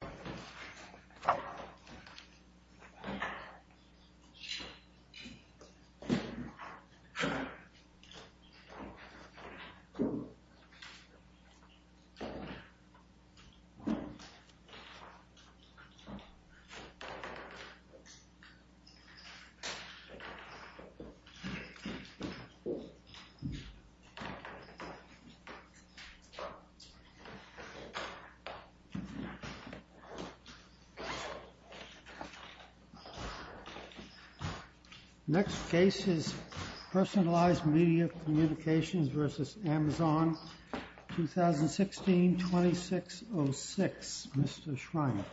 This video was made in Cooperation with Shiba Inu Community at Shiba Inu Community Center in Kansai, Japan. Next case is Personalized Media Communications v. Amazon, 2016-2606. Mr. Schreiner.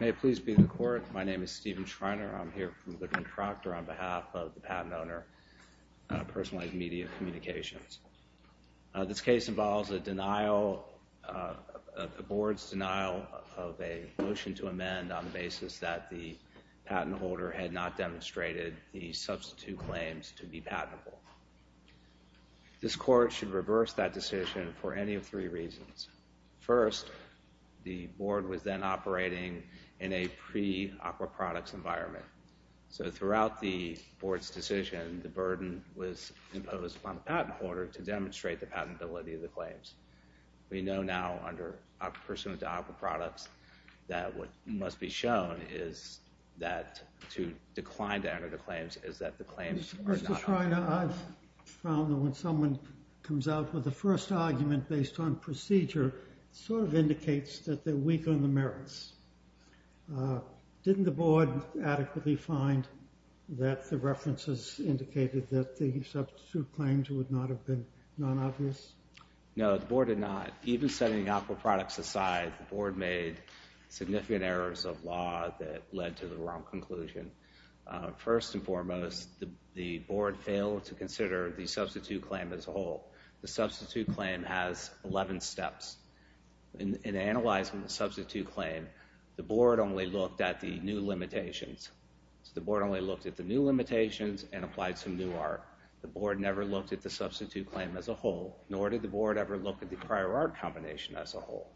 May it please be in the Court. My name is Stephen Schreiner. I'm here from the contractor on behalf of the patent owner, Personalized Media Communications. This case involves a denial, a board's denial of a motion to amend on the basis that the patent holder had not demonstrated the substitute claims to be patentable. This Court should reverse that decision for any of three reasons. First, the board was then operating in a pre-Aqua Products environment. So throughout the board's decision, the burden was imposed on the patent holder to demonstrate the patentability of the claims. We know now under Personal to Aqua Products that what must be shown is that to decline to enter the claims is that the claims are not obvious. Mr. Schreiner, I've found that when someone comes out with a first argument based on procedure, it sort of indicates that they're weak on the merits. Didn't the board adequately find that the references indicated that the substitute claims would not have been non-obvious? No, the board did not. Even setting Aqua Products aside, the board made significant errors of law that led to the wrong conclusion. First and foremost, the board failed to consider the substitute claim as a whole. The substitute claim has 11 steps. In analyzing the substitute claim, the board only looked at the new limitations. The board only looked at the new limitations and applied some new art. The board never looked at the substitute claim as a whole, nor did the board ever look at the prior art combination as a whole.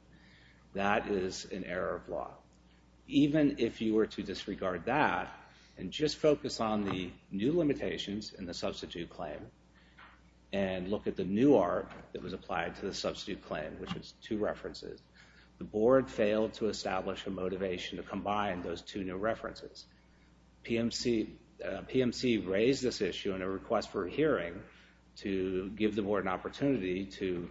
That is an error of law. Even if you were to disregard that and just focus on the new limitations in the substitute claim and look at the new art that was applied to the substitute claim, which is two references, the board failed to establish a motivation to combine those two new references. PMC raised this issue in a request for a hearing to give the board an opportunity to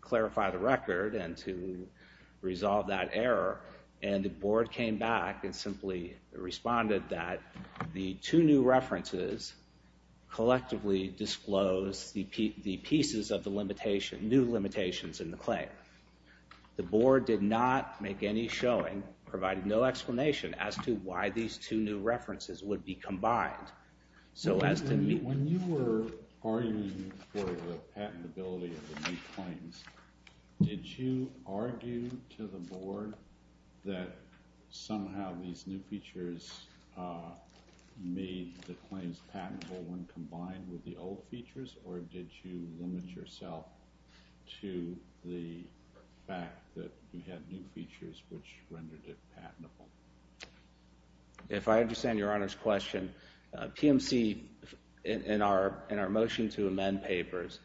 clarify the record and to resolve that error. The board came back and simply responded that the two new references collectively disclosed the pieces of the new limitations in the claim. The board did not make any showing, provided no explanation as to why these two new references would be combined. When you were arguing for the patentability of the new claims, did you argue to the board that somehow these new features made the claims patentable when combined with the old features? Or did you limit yourself to the fact that you had new features which rendered it patentable? If I understand Your Honor's question, PMC, in our motion to amend papers,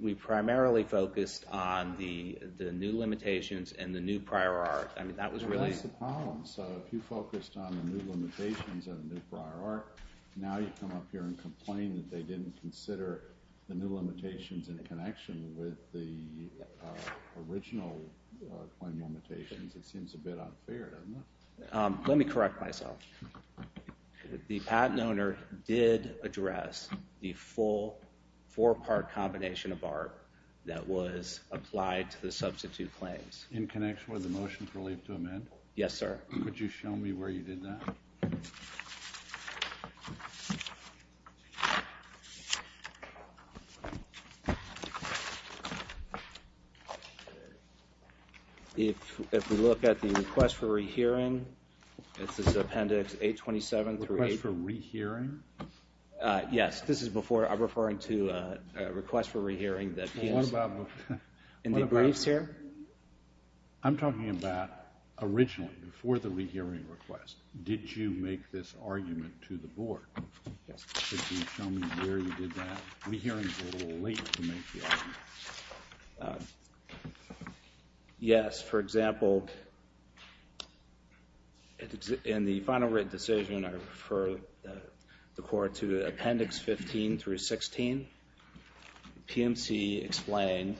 we primarily focused on the new limitations and the new prior art. That's the problem. So if you focused on the new limitations and the new prior art, now you come up here and complain that they didn't consider the new limitations in connection with the original claim limitations. It seems a bit unfair, doesn't it? Let me correct myself. The patent owner did address the full four-part combination of art that was applied to the substitute claims. In connection with the motion for leave to amend? Yes, sir. Could you show me where you did that? If we look at the request for rehearing, it's this appendix 827 through 80. Request for rehearing? Yes, this is before. I'm referring to a request for rehearing that PMC. Indeed briefs here? I'm talking about originally, before the rehearing request. Did you make this argument to the board? Yes. Could you show me where you did that? Rehearing is a little late to make the argument. Yes, for example, in the final written decision, I refer the court to appendix 15 through 16. PMC explained,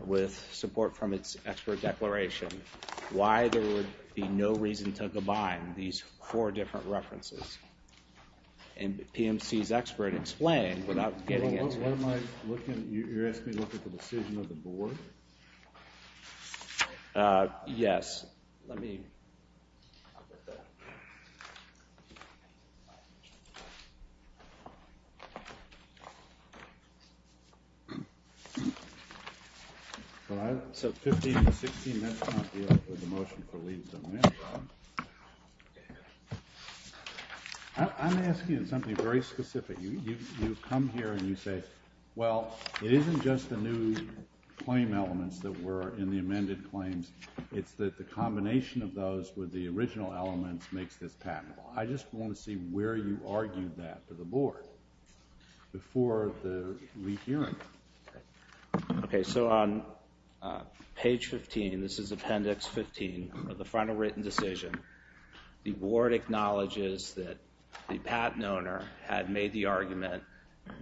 with support from its expert declaration, why there would be no reason to combine these four different references. And PMC's expert explained without getting into it. You're asking me to look at the decision of the board? Yes. So 15 through 16, that's not the motion for leave to amend. I'm asking you something very specific. You've come here and you say, well, it isn't just the new claim elements that were in the amended claims. It's that the combination of those with the original elements makes this patentable. I just want to see where you argued that to the board before the rehearing. OK, so on page 15, this is appendix 15 of the final written decision. The board acknowledges that the patent owner had made the argument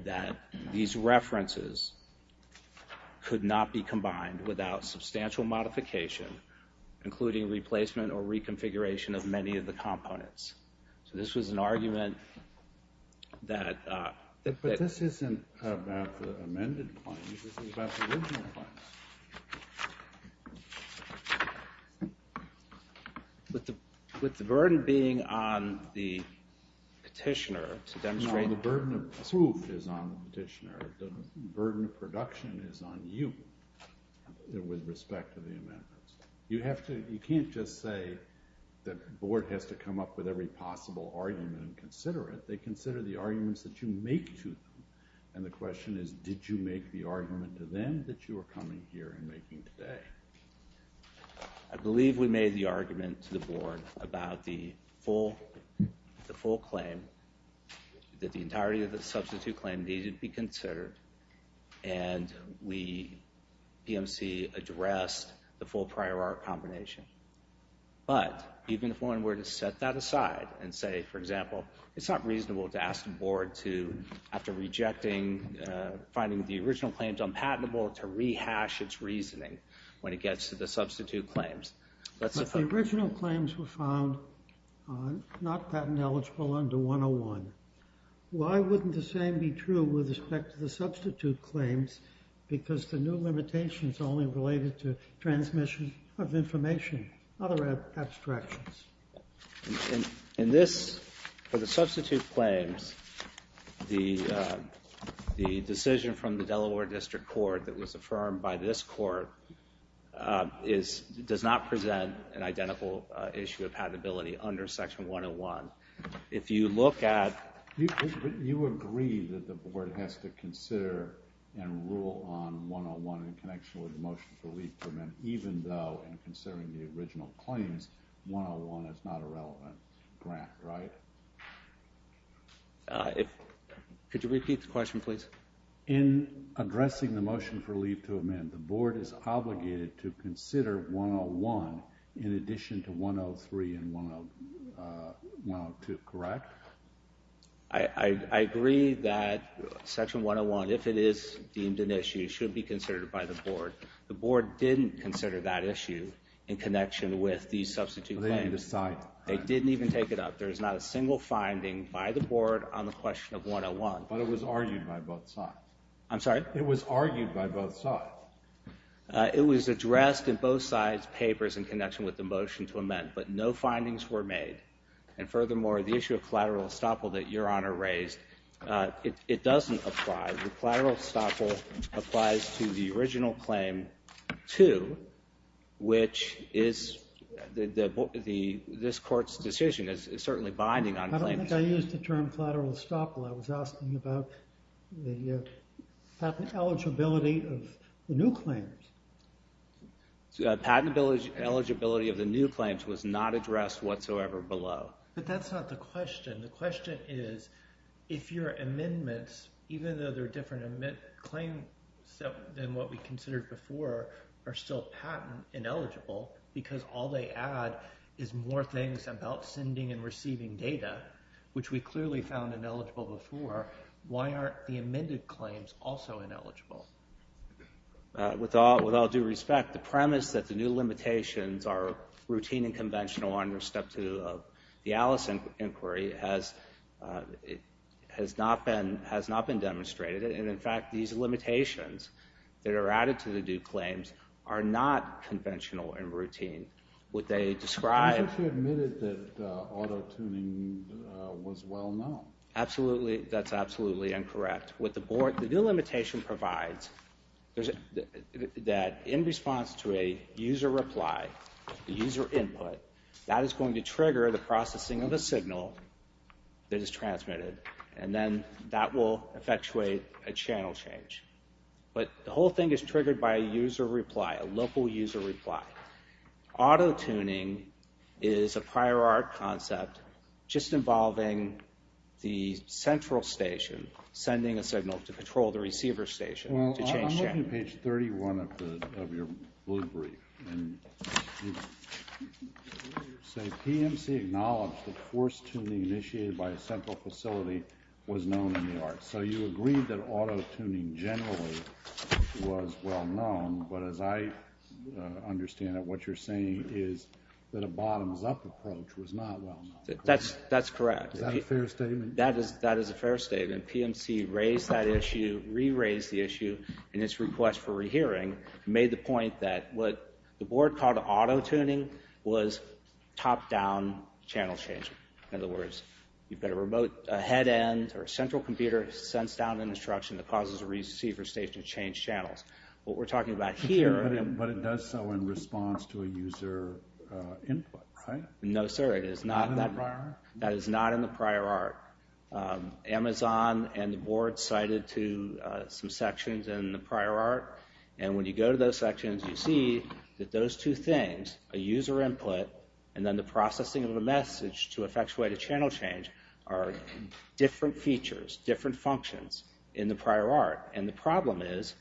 that these references could not be combined without substantial modification, including replacement or reconfiguration of many of the components. So this was an argument that... But this isn't about the amended claims. This is about the original claims. With the burden being on the petitioner to demonstrate... No, the burden of proof is on the petitioner. The burden of production is on you with respect to the amendments. You can't just say that the board has to come up with every possible argument and consider it. They consider the arguments that you make to them. And the question is, did you make the argument to them that you are coming here and making today? I believe we made the argument to the board about the full claim, that the entirety of the substitute claim needed to be considered. And we, PMC, addressed the full prior art combination. But even if one were to set that aside and say, for example, it's not reasonable to ask the board to, after rejecting, finding the original claims unpatentable, to rehash its reasoning when it gets to the substitute claims. But the original claims were found not patent eligible under 101. Why wouldn't the same be true with respect to the substitute claims? Because the new limitations are only related to transmission of information, other abstractions. In this, for the substitute claims, the decision from the Delaware District Court that was affirmed by this court does not present an identical issue of patentability under Section 101. You agree that the board has to consider and rule on 101 in connection with the motion for leave to amend, even though, in considering the original claims, 101 is not a relevant grant, right? Could you repeat the question, please? In addressing the motion for leave to amend, the board is obligated to consider 101 in addition to 103 and 102, correct? I agree that Section 101, if it is deemed an issue, should be considered by the board. The board didn't consider that issue in connection with the substitute claims. They didn't even take it up. There is not a single finding by the board on the question of 101. But it was argued by both sides. I'm sorry? It was argued by both sides. It was addressed in both sides' papers in connection with the motion to amend, but no findings were made. And furthermore, the issue of collateral estoppel that Your Honor raised, it doesn't apply. The collateral estoppel applies to the original claim 2, which is this court's decision. It's certainly binding on claim 2. I think I used the term collateral estoppel. I was asking about the patent eligibility of the new claims. The patent eligibility of the new claims was not addressed whatsoever below. But that's not the question. The question is, if your amendments, even though they're different claims than what we considered before, are still patent ineligible, because all they add is more things about sending and receiving data, which we clearly found ineligible before, why aren't the amended claims also ineligible? With all due respect, the premise that the new limitations are routine and conventional under Step 2 of the Alice inquiry has not been demonstrated. And, in fact, these limitations that are added to the new claims are not conventional and routine. Would they describe- I think you admitted that auto-tuning was well known. Absolutely. That's absolutely incorrect. The new limitation provides that in response to a user reply, a user input, that is going to trigger the processing of a signal that is transmitted. And then that will effectuate a channel change. But the whole thing is triggered by a user reply, a local user reply. Auto-tuning is a prior art concept just involving the central station sending a signal to control the receiver station to change channels. Well, I'm looking at page 31 of your blue brief. And you say, PMC acknowledged that forced tuning initiated by a central facility was known in the arts. So you agreed that auto-tuning generally was well known. But as I understand it, what you're saying is that a bottoms-up approach was not well known. That's correct. Is that a fair statement? That is a fair statement. PMC raised that issue, re-raised the issue in its request for re-hearing, and made the point that what the board called auto-tuning was top-down channel changing. In other words, you've got a remote head-end or central computer that sends down an instruction that causes the receiver station to change channels. What we're talking about here... But it does so in response to a user input, right? No, sir. Not in the prior art? That is not in the prior art. Amazon and the board cited some sections in the prior art. And when you go to those sections, you see that those two things, a user input and then the processing of a message to effectuate a channel change, are different features, different functions in the prior art. And the problem is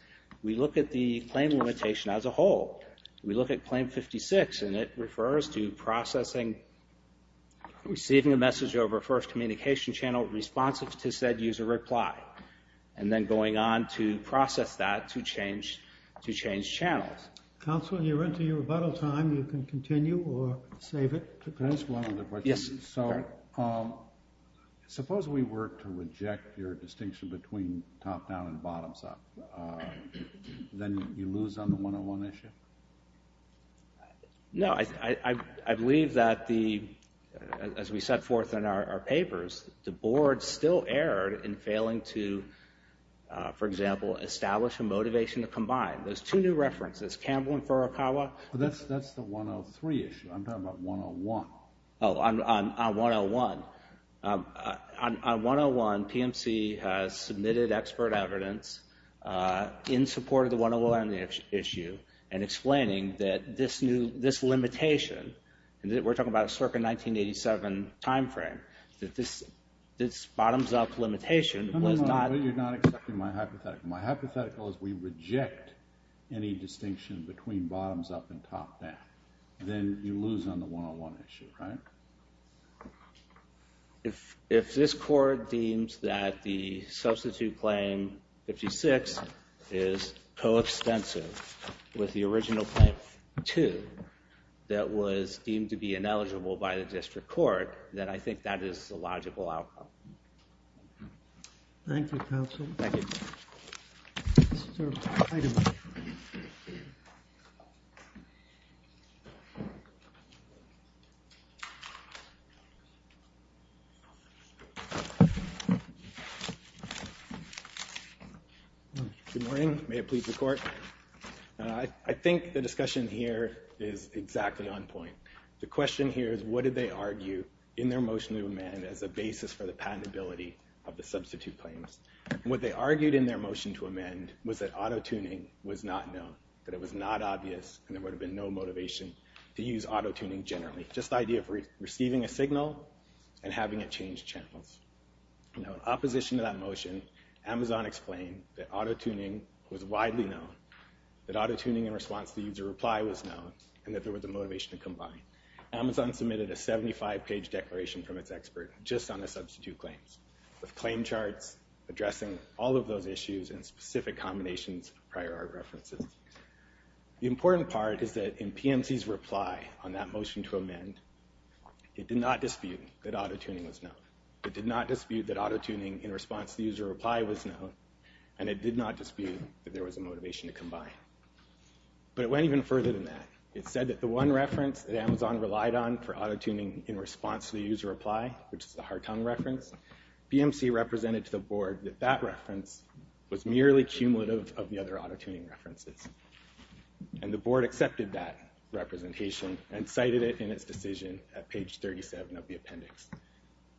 we look at the claim limitation as a whole. We look at Claim 56, and it refers to processing, receiving a message over a first communication channel responsive to said user reply, and then going on to process that to change channels. Counsel, you're into your rebuttal time. You can continue or save it. Can I ask one other question? Yes, sir. Suppose we were to reject your distinction between top-down and bottom-up. Then you lose on the one-on-one issue? No. I believe that as we set forth in our papers, the board still erred in failing to, for example, establish a motivation to combine. There's two new references, Campbell and Furukawa. That's the 103 issue. I'm talking about 101. Oh, on 101. On 101, PMC has submitted expert evidence in support of the 101 issue and explaining that this limitation, and we're talking about a circa 1987 time frame, that this bottom-up limitation was not. No, no, no. You're not accepting my hypothetical. My hypothetical is we reject any distinction between bottom-up and top-down. Then you lose on the one-on-one issue, right? If this court deems that the substitute claim, 56, is coextensive with the original claim, 2, that was deemed to be ineligible by the district court, then I think that is the logical outcome. Thank you, counsel. Thank you. Sir, item. Good morning. May it please the court. I think the discussion here is exactly on point. The question here is what did they argue in their motion to amend as a basis for the patentability of the substitute claims? What they argued in their motion to amend was that auto-tuning was not known, that it was not obvious, and there would have been no motivation to use auto-tuning generally, just the idea of receiving a signal and having it change channels. In opposition to that motion, Amazon explained that auto-tuning was widely known, that auto-tuning in response to user reply was known, and that there was a motivation to combine. Amazon submitted a 75-page declaration from its expert just on the substitute claims. With claim charts addressing all of those issues and specific combinations of prior art references. The important part is that in PMC's reply on that motion to amend, it did not dispute that auto-tuning was known. It did not dispute that auto-tuning in response to user reply was known, and it did not dispute that there was a motivation to combine. But it went even further than that. It said that the one reference that Amazon relied on for auto-tuning in response to user reply, which is the Hartung reference, PMC represented to the board that that reference was merely cumulative of the other auto-tuning references. And the board accepted that representation and cited it in its decision at page 37 of the appendix.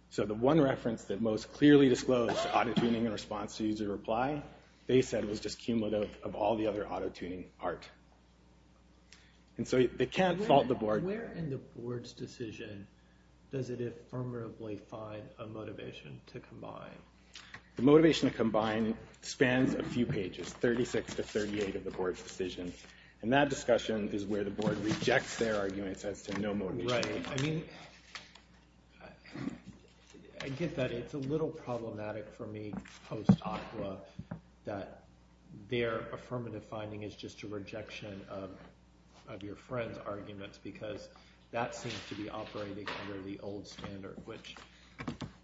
So the one reference that most clearly disclosed auto-tuning in response to user reply, they said was just cumulative of all the other auto-tuning art. And so they can't fault the board. Where in the board's decision does it affirmatively find a motivation to combine? The motivation to combine spans a few pages, 36 to 38 of the board's decision. And that discussion is where the board rejects their arguments as to no motivation to combine. Right. I mean, I get that it's a little problematic for me post-ACWA that their affirmative finding is just a rejection of your friend's arguments because that seems to be operating under the old standard, which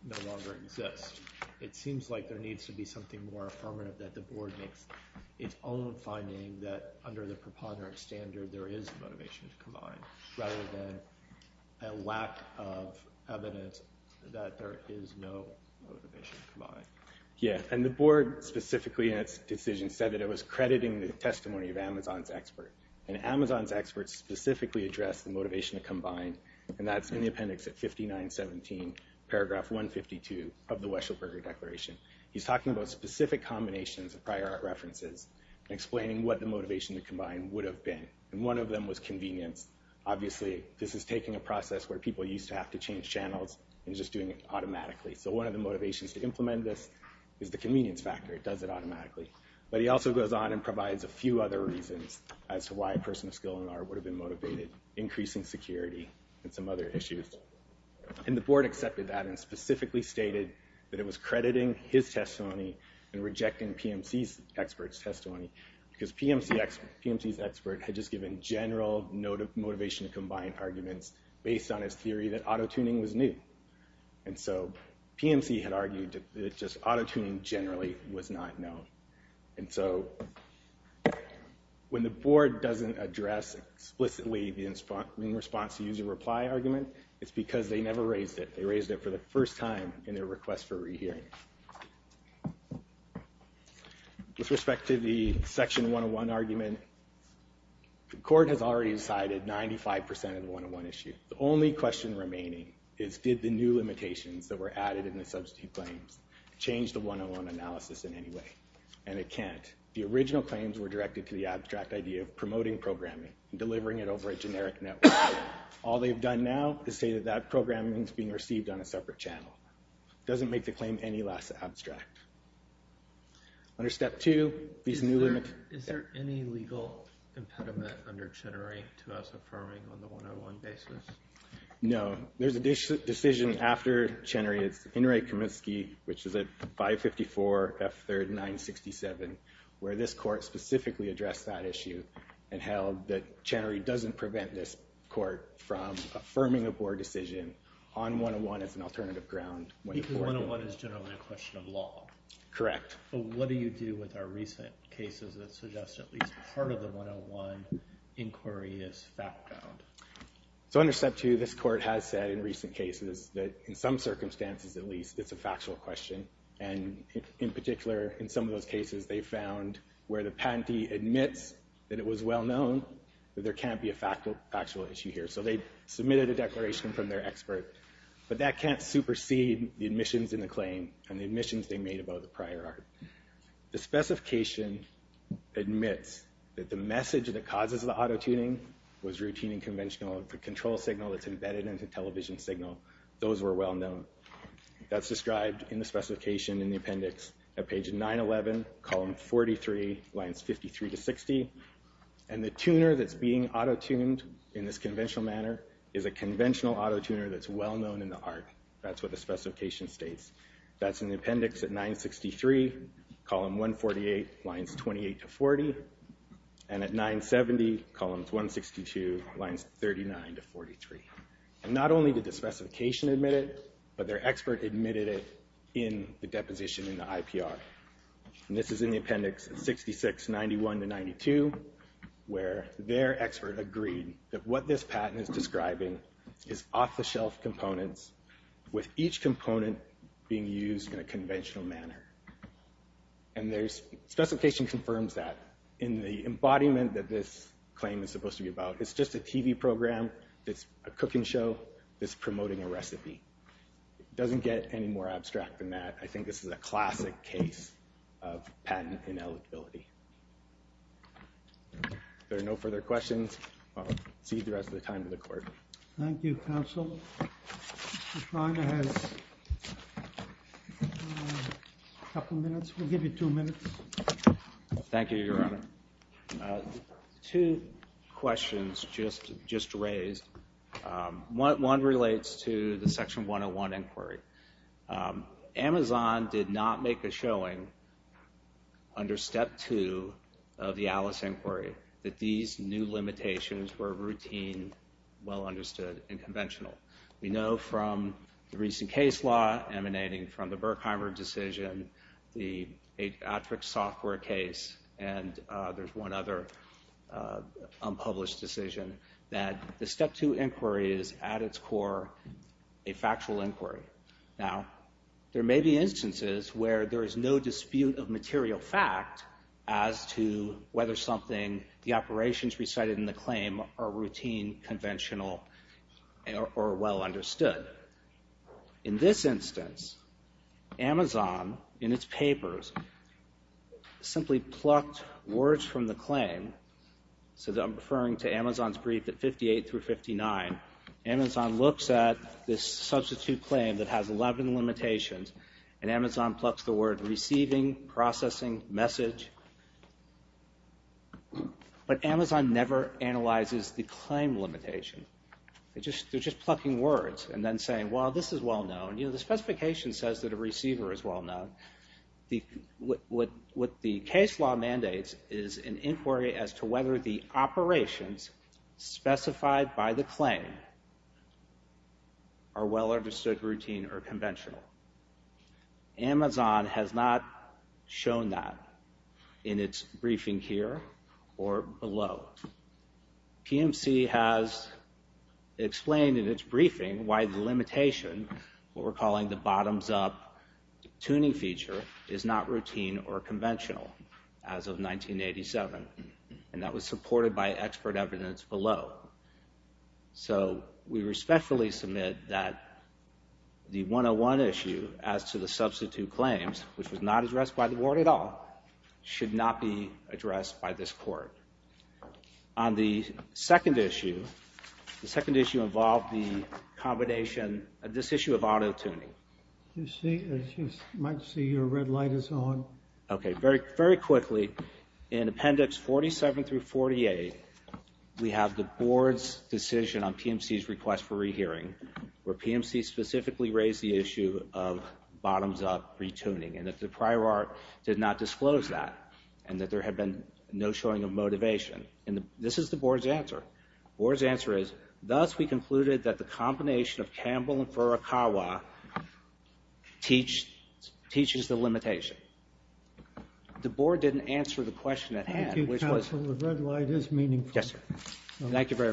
no longer exists. It seems like there needs to be something more affirmative that the board makes its own finding that under the preponderant standard there is motivation to combine rather than a lack of evidence that there is no motivation to combine. Yeah, and the board specifically in its decision said that it was crediting the testimony of Amazon's expert. And Amazon's experts specifically addressed the motivation to combine, and that's in the appendix at 5917, paragraph 152 of the Weschelberger Declaration. He's talking about specific combinations of prior art references and explaining what the motivation to combine would have been. And one of them was convenience. Obviously, this is taking a process where people used to have to change channels and just doing it automatically. So one of the motivations to implement this is the convenience factor. It does it automatically. But he also goes on and provides a few other reasons as to why a person of skill in art would have been motivated, increasing security and some other issues. And the board accepted that and specifically stated that it was crediting his testimony and rejecting PMC's expert's testimony because PMC's expert had just given general motivation to combine arguments based on his theory that autotuning was new. And so PMC had argued that just autotuning generally was not known. And so when the board doesn't address explicitly the in response to user reply argument, it's because they never raised it. They raised it for the first time in their request for rehearing. With respect to the section 101 argument, the court has already decided 95% of the 101 issue. The only question remaining is did the new limitations that were added in the substitute claims change the 101 analysis in any way? And it can't. The original claims were directed to the abstract idea of promoting programming and delivering it over a generic network. All they've done now is say that that programming is being received on a separate channel. It doesn't make the claim any less abstract. Under step two, these new limits... Is there any legal impediment under Chenery to us affirming on the 101 basis? No. There's a decision after Chenery. It's Inouye Kaminsky, which is at 554 F3rd 967, where this court specifically addressed that issue and held that Chenery doesn't prevent this court from affirming a board decision on 101 as an alternative ground. Because 101 is generally a question of law. Correct. What do you do with our recent cases that suggest at least part of the 101 inquiry is fact-bound? So under step two, this court has said in recent cases that in some circumstances, at least, it's a factual question. And in particular, in some of those cases, they found where the patentee admits that it was well-known, that there can't be a factual issue here. So they submitted a declaration from their expert. But that can't supersede the admissions in the claim and the admissions they made about the prior art. The specification admits that the message that causes the auto-tuning was routine and conventional. The control signal that's embedded in the television signal, those were well-known. That's described in the specification in the appendix at page 911, column 43, lines 53 to 60. And the tuner that's being auto-tuned in this conventional manner is a conventional auto-tuner that's well-known in the art. That's what the specification states. That's in the appendix at 963, column 148, lines 28 to 40. And at 970, columns 162, lines 39 to 43. And not only did the specification admit it, but their expert admitted it in the deposition in the IPR. And this is in the appendix at 6691 to 92, where their expert agreed that what this patent is describing is off-the-shelf components with each component being used in a conventional manner. And the specification confirms that. In the embodiment that this claim is supposed to be about, it's just a TV program, it's a cooking show, it's promoting a recipe. It doesn't get any more abstract than that. I think this is a classic case of patent ineligibility. If there are no further questions, I'll cede the rest of the time to the court. Thank you, counsel. Mr. Schreiner has a couple minutes. We'll give you two minutes. Thank you, Your Honor. Two questions just raised. One relates to the Section 101 inquiry. Amazon did not make a showing under Step 2 of the Alice inquiry that these new limitations were routine, well-understood, and conventional. We know from the recent case law emanating from the Berkheimer decision, the Adriatrix software case, and there's one other unpublished decision, that the Step 2 inquiry is, at its core, a factual inquiry. Now, there may be instances where there is no dispute of material fact as to whether something, the operations recited in the claim, are routine, conventional, or well-understood. In this instance, Amazon, in its papers, simply plucked words from the claim. I'm referring to Amazon's brief at 58 through 59. Amazon looks at this substitute claim that has 11 limitations, and Amazon plucks the word receiving, processing, message. But Amazon never analyzes the claim limitation. They're just plucking words and then saying, well, this is well-known. The specification says that a receiver is well-known. What the case law mandates is an inquiry as to whether the operations specified by the claim are well-understood, routine, or conventional. Amazon has not shown that in its briefing here or below. PMC has explained in its briefing why the limitation, what we're calling the bottoms-up tuning feature, is not routine or conventional as of 1987, and that was supported by expert evidence below. So we respectfully submit that the 101 issue as to the substitute claims, which was not addressed by the board at all, should not be addressed by this court. On the second issue, the second issue involved the combination, this issue of auto-tuning. You might see your red light is on. Okay, very quickly, in Appendix 47 through 48, we have the board's decision on PMC's request for rehearing, where PMC specifically raised the issue of bottoms-up re-tuning, and that the prior art did not disclose that, and that there had been no showing of motivation. And this is the board's answer. The board's answer is, thus we concluded that the combination of Campbell and Furukawa teaches the limitation. The board didn't answer the question at hand, which was. Thank you, counsel. The red light is meaningful. Yes, sir. Thank you very much.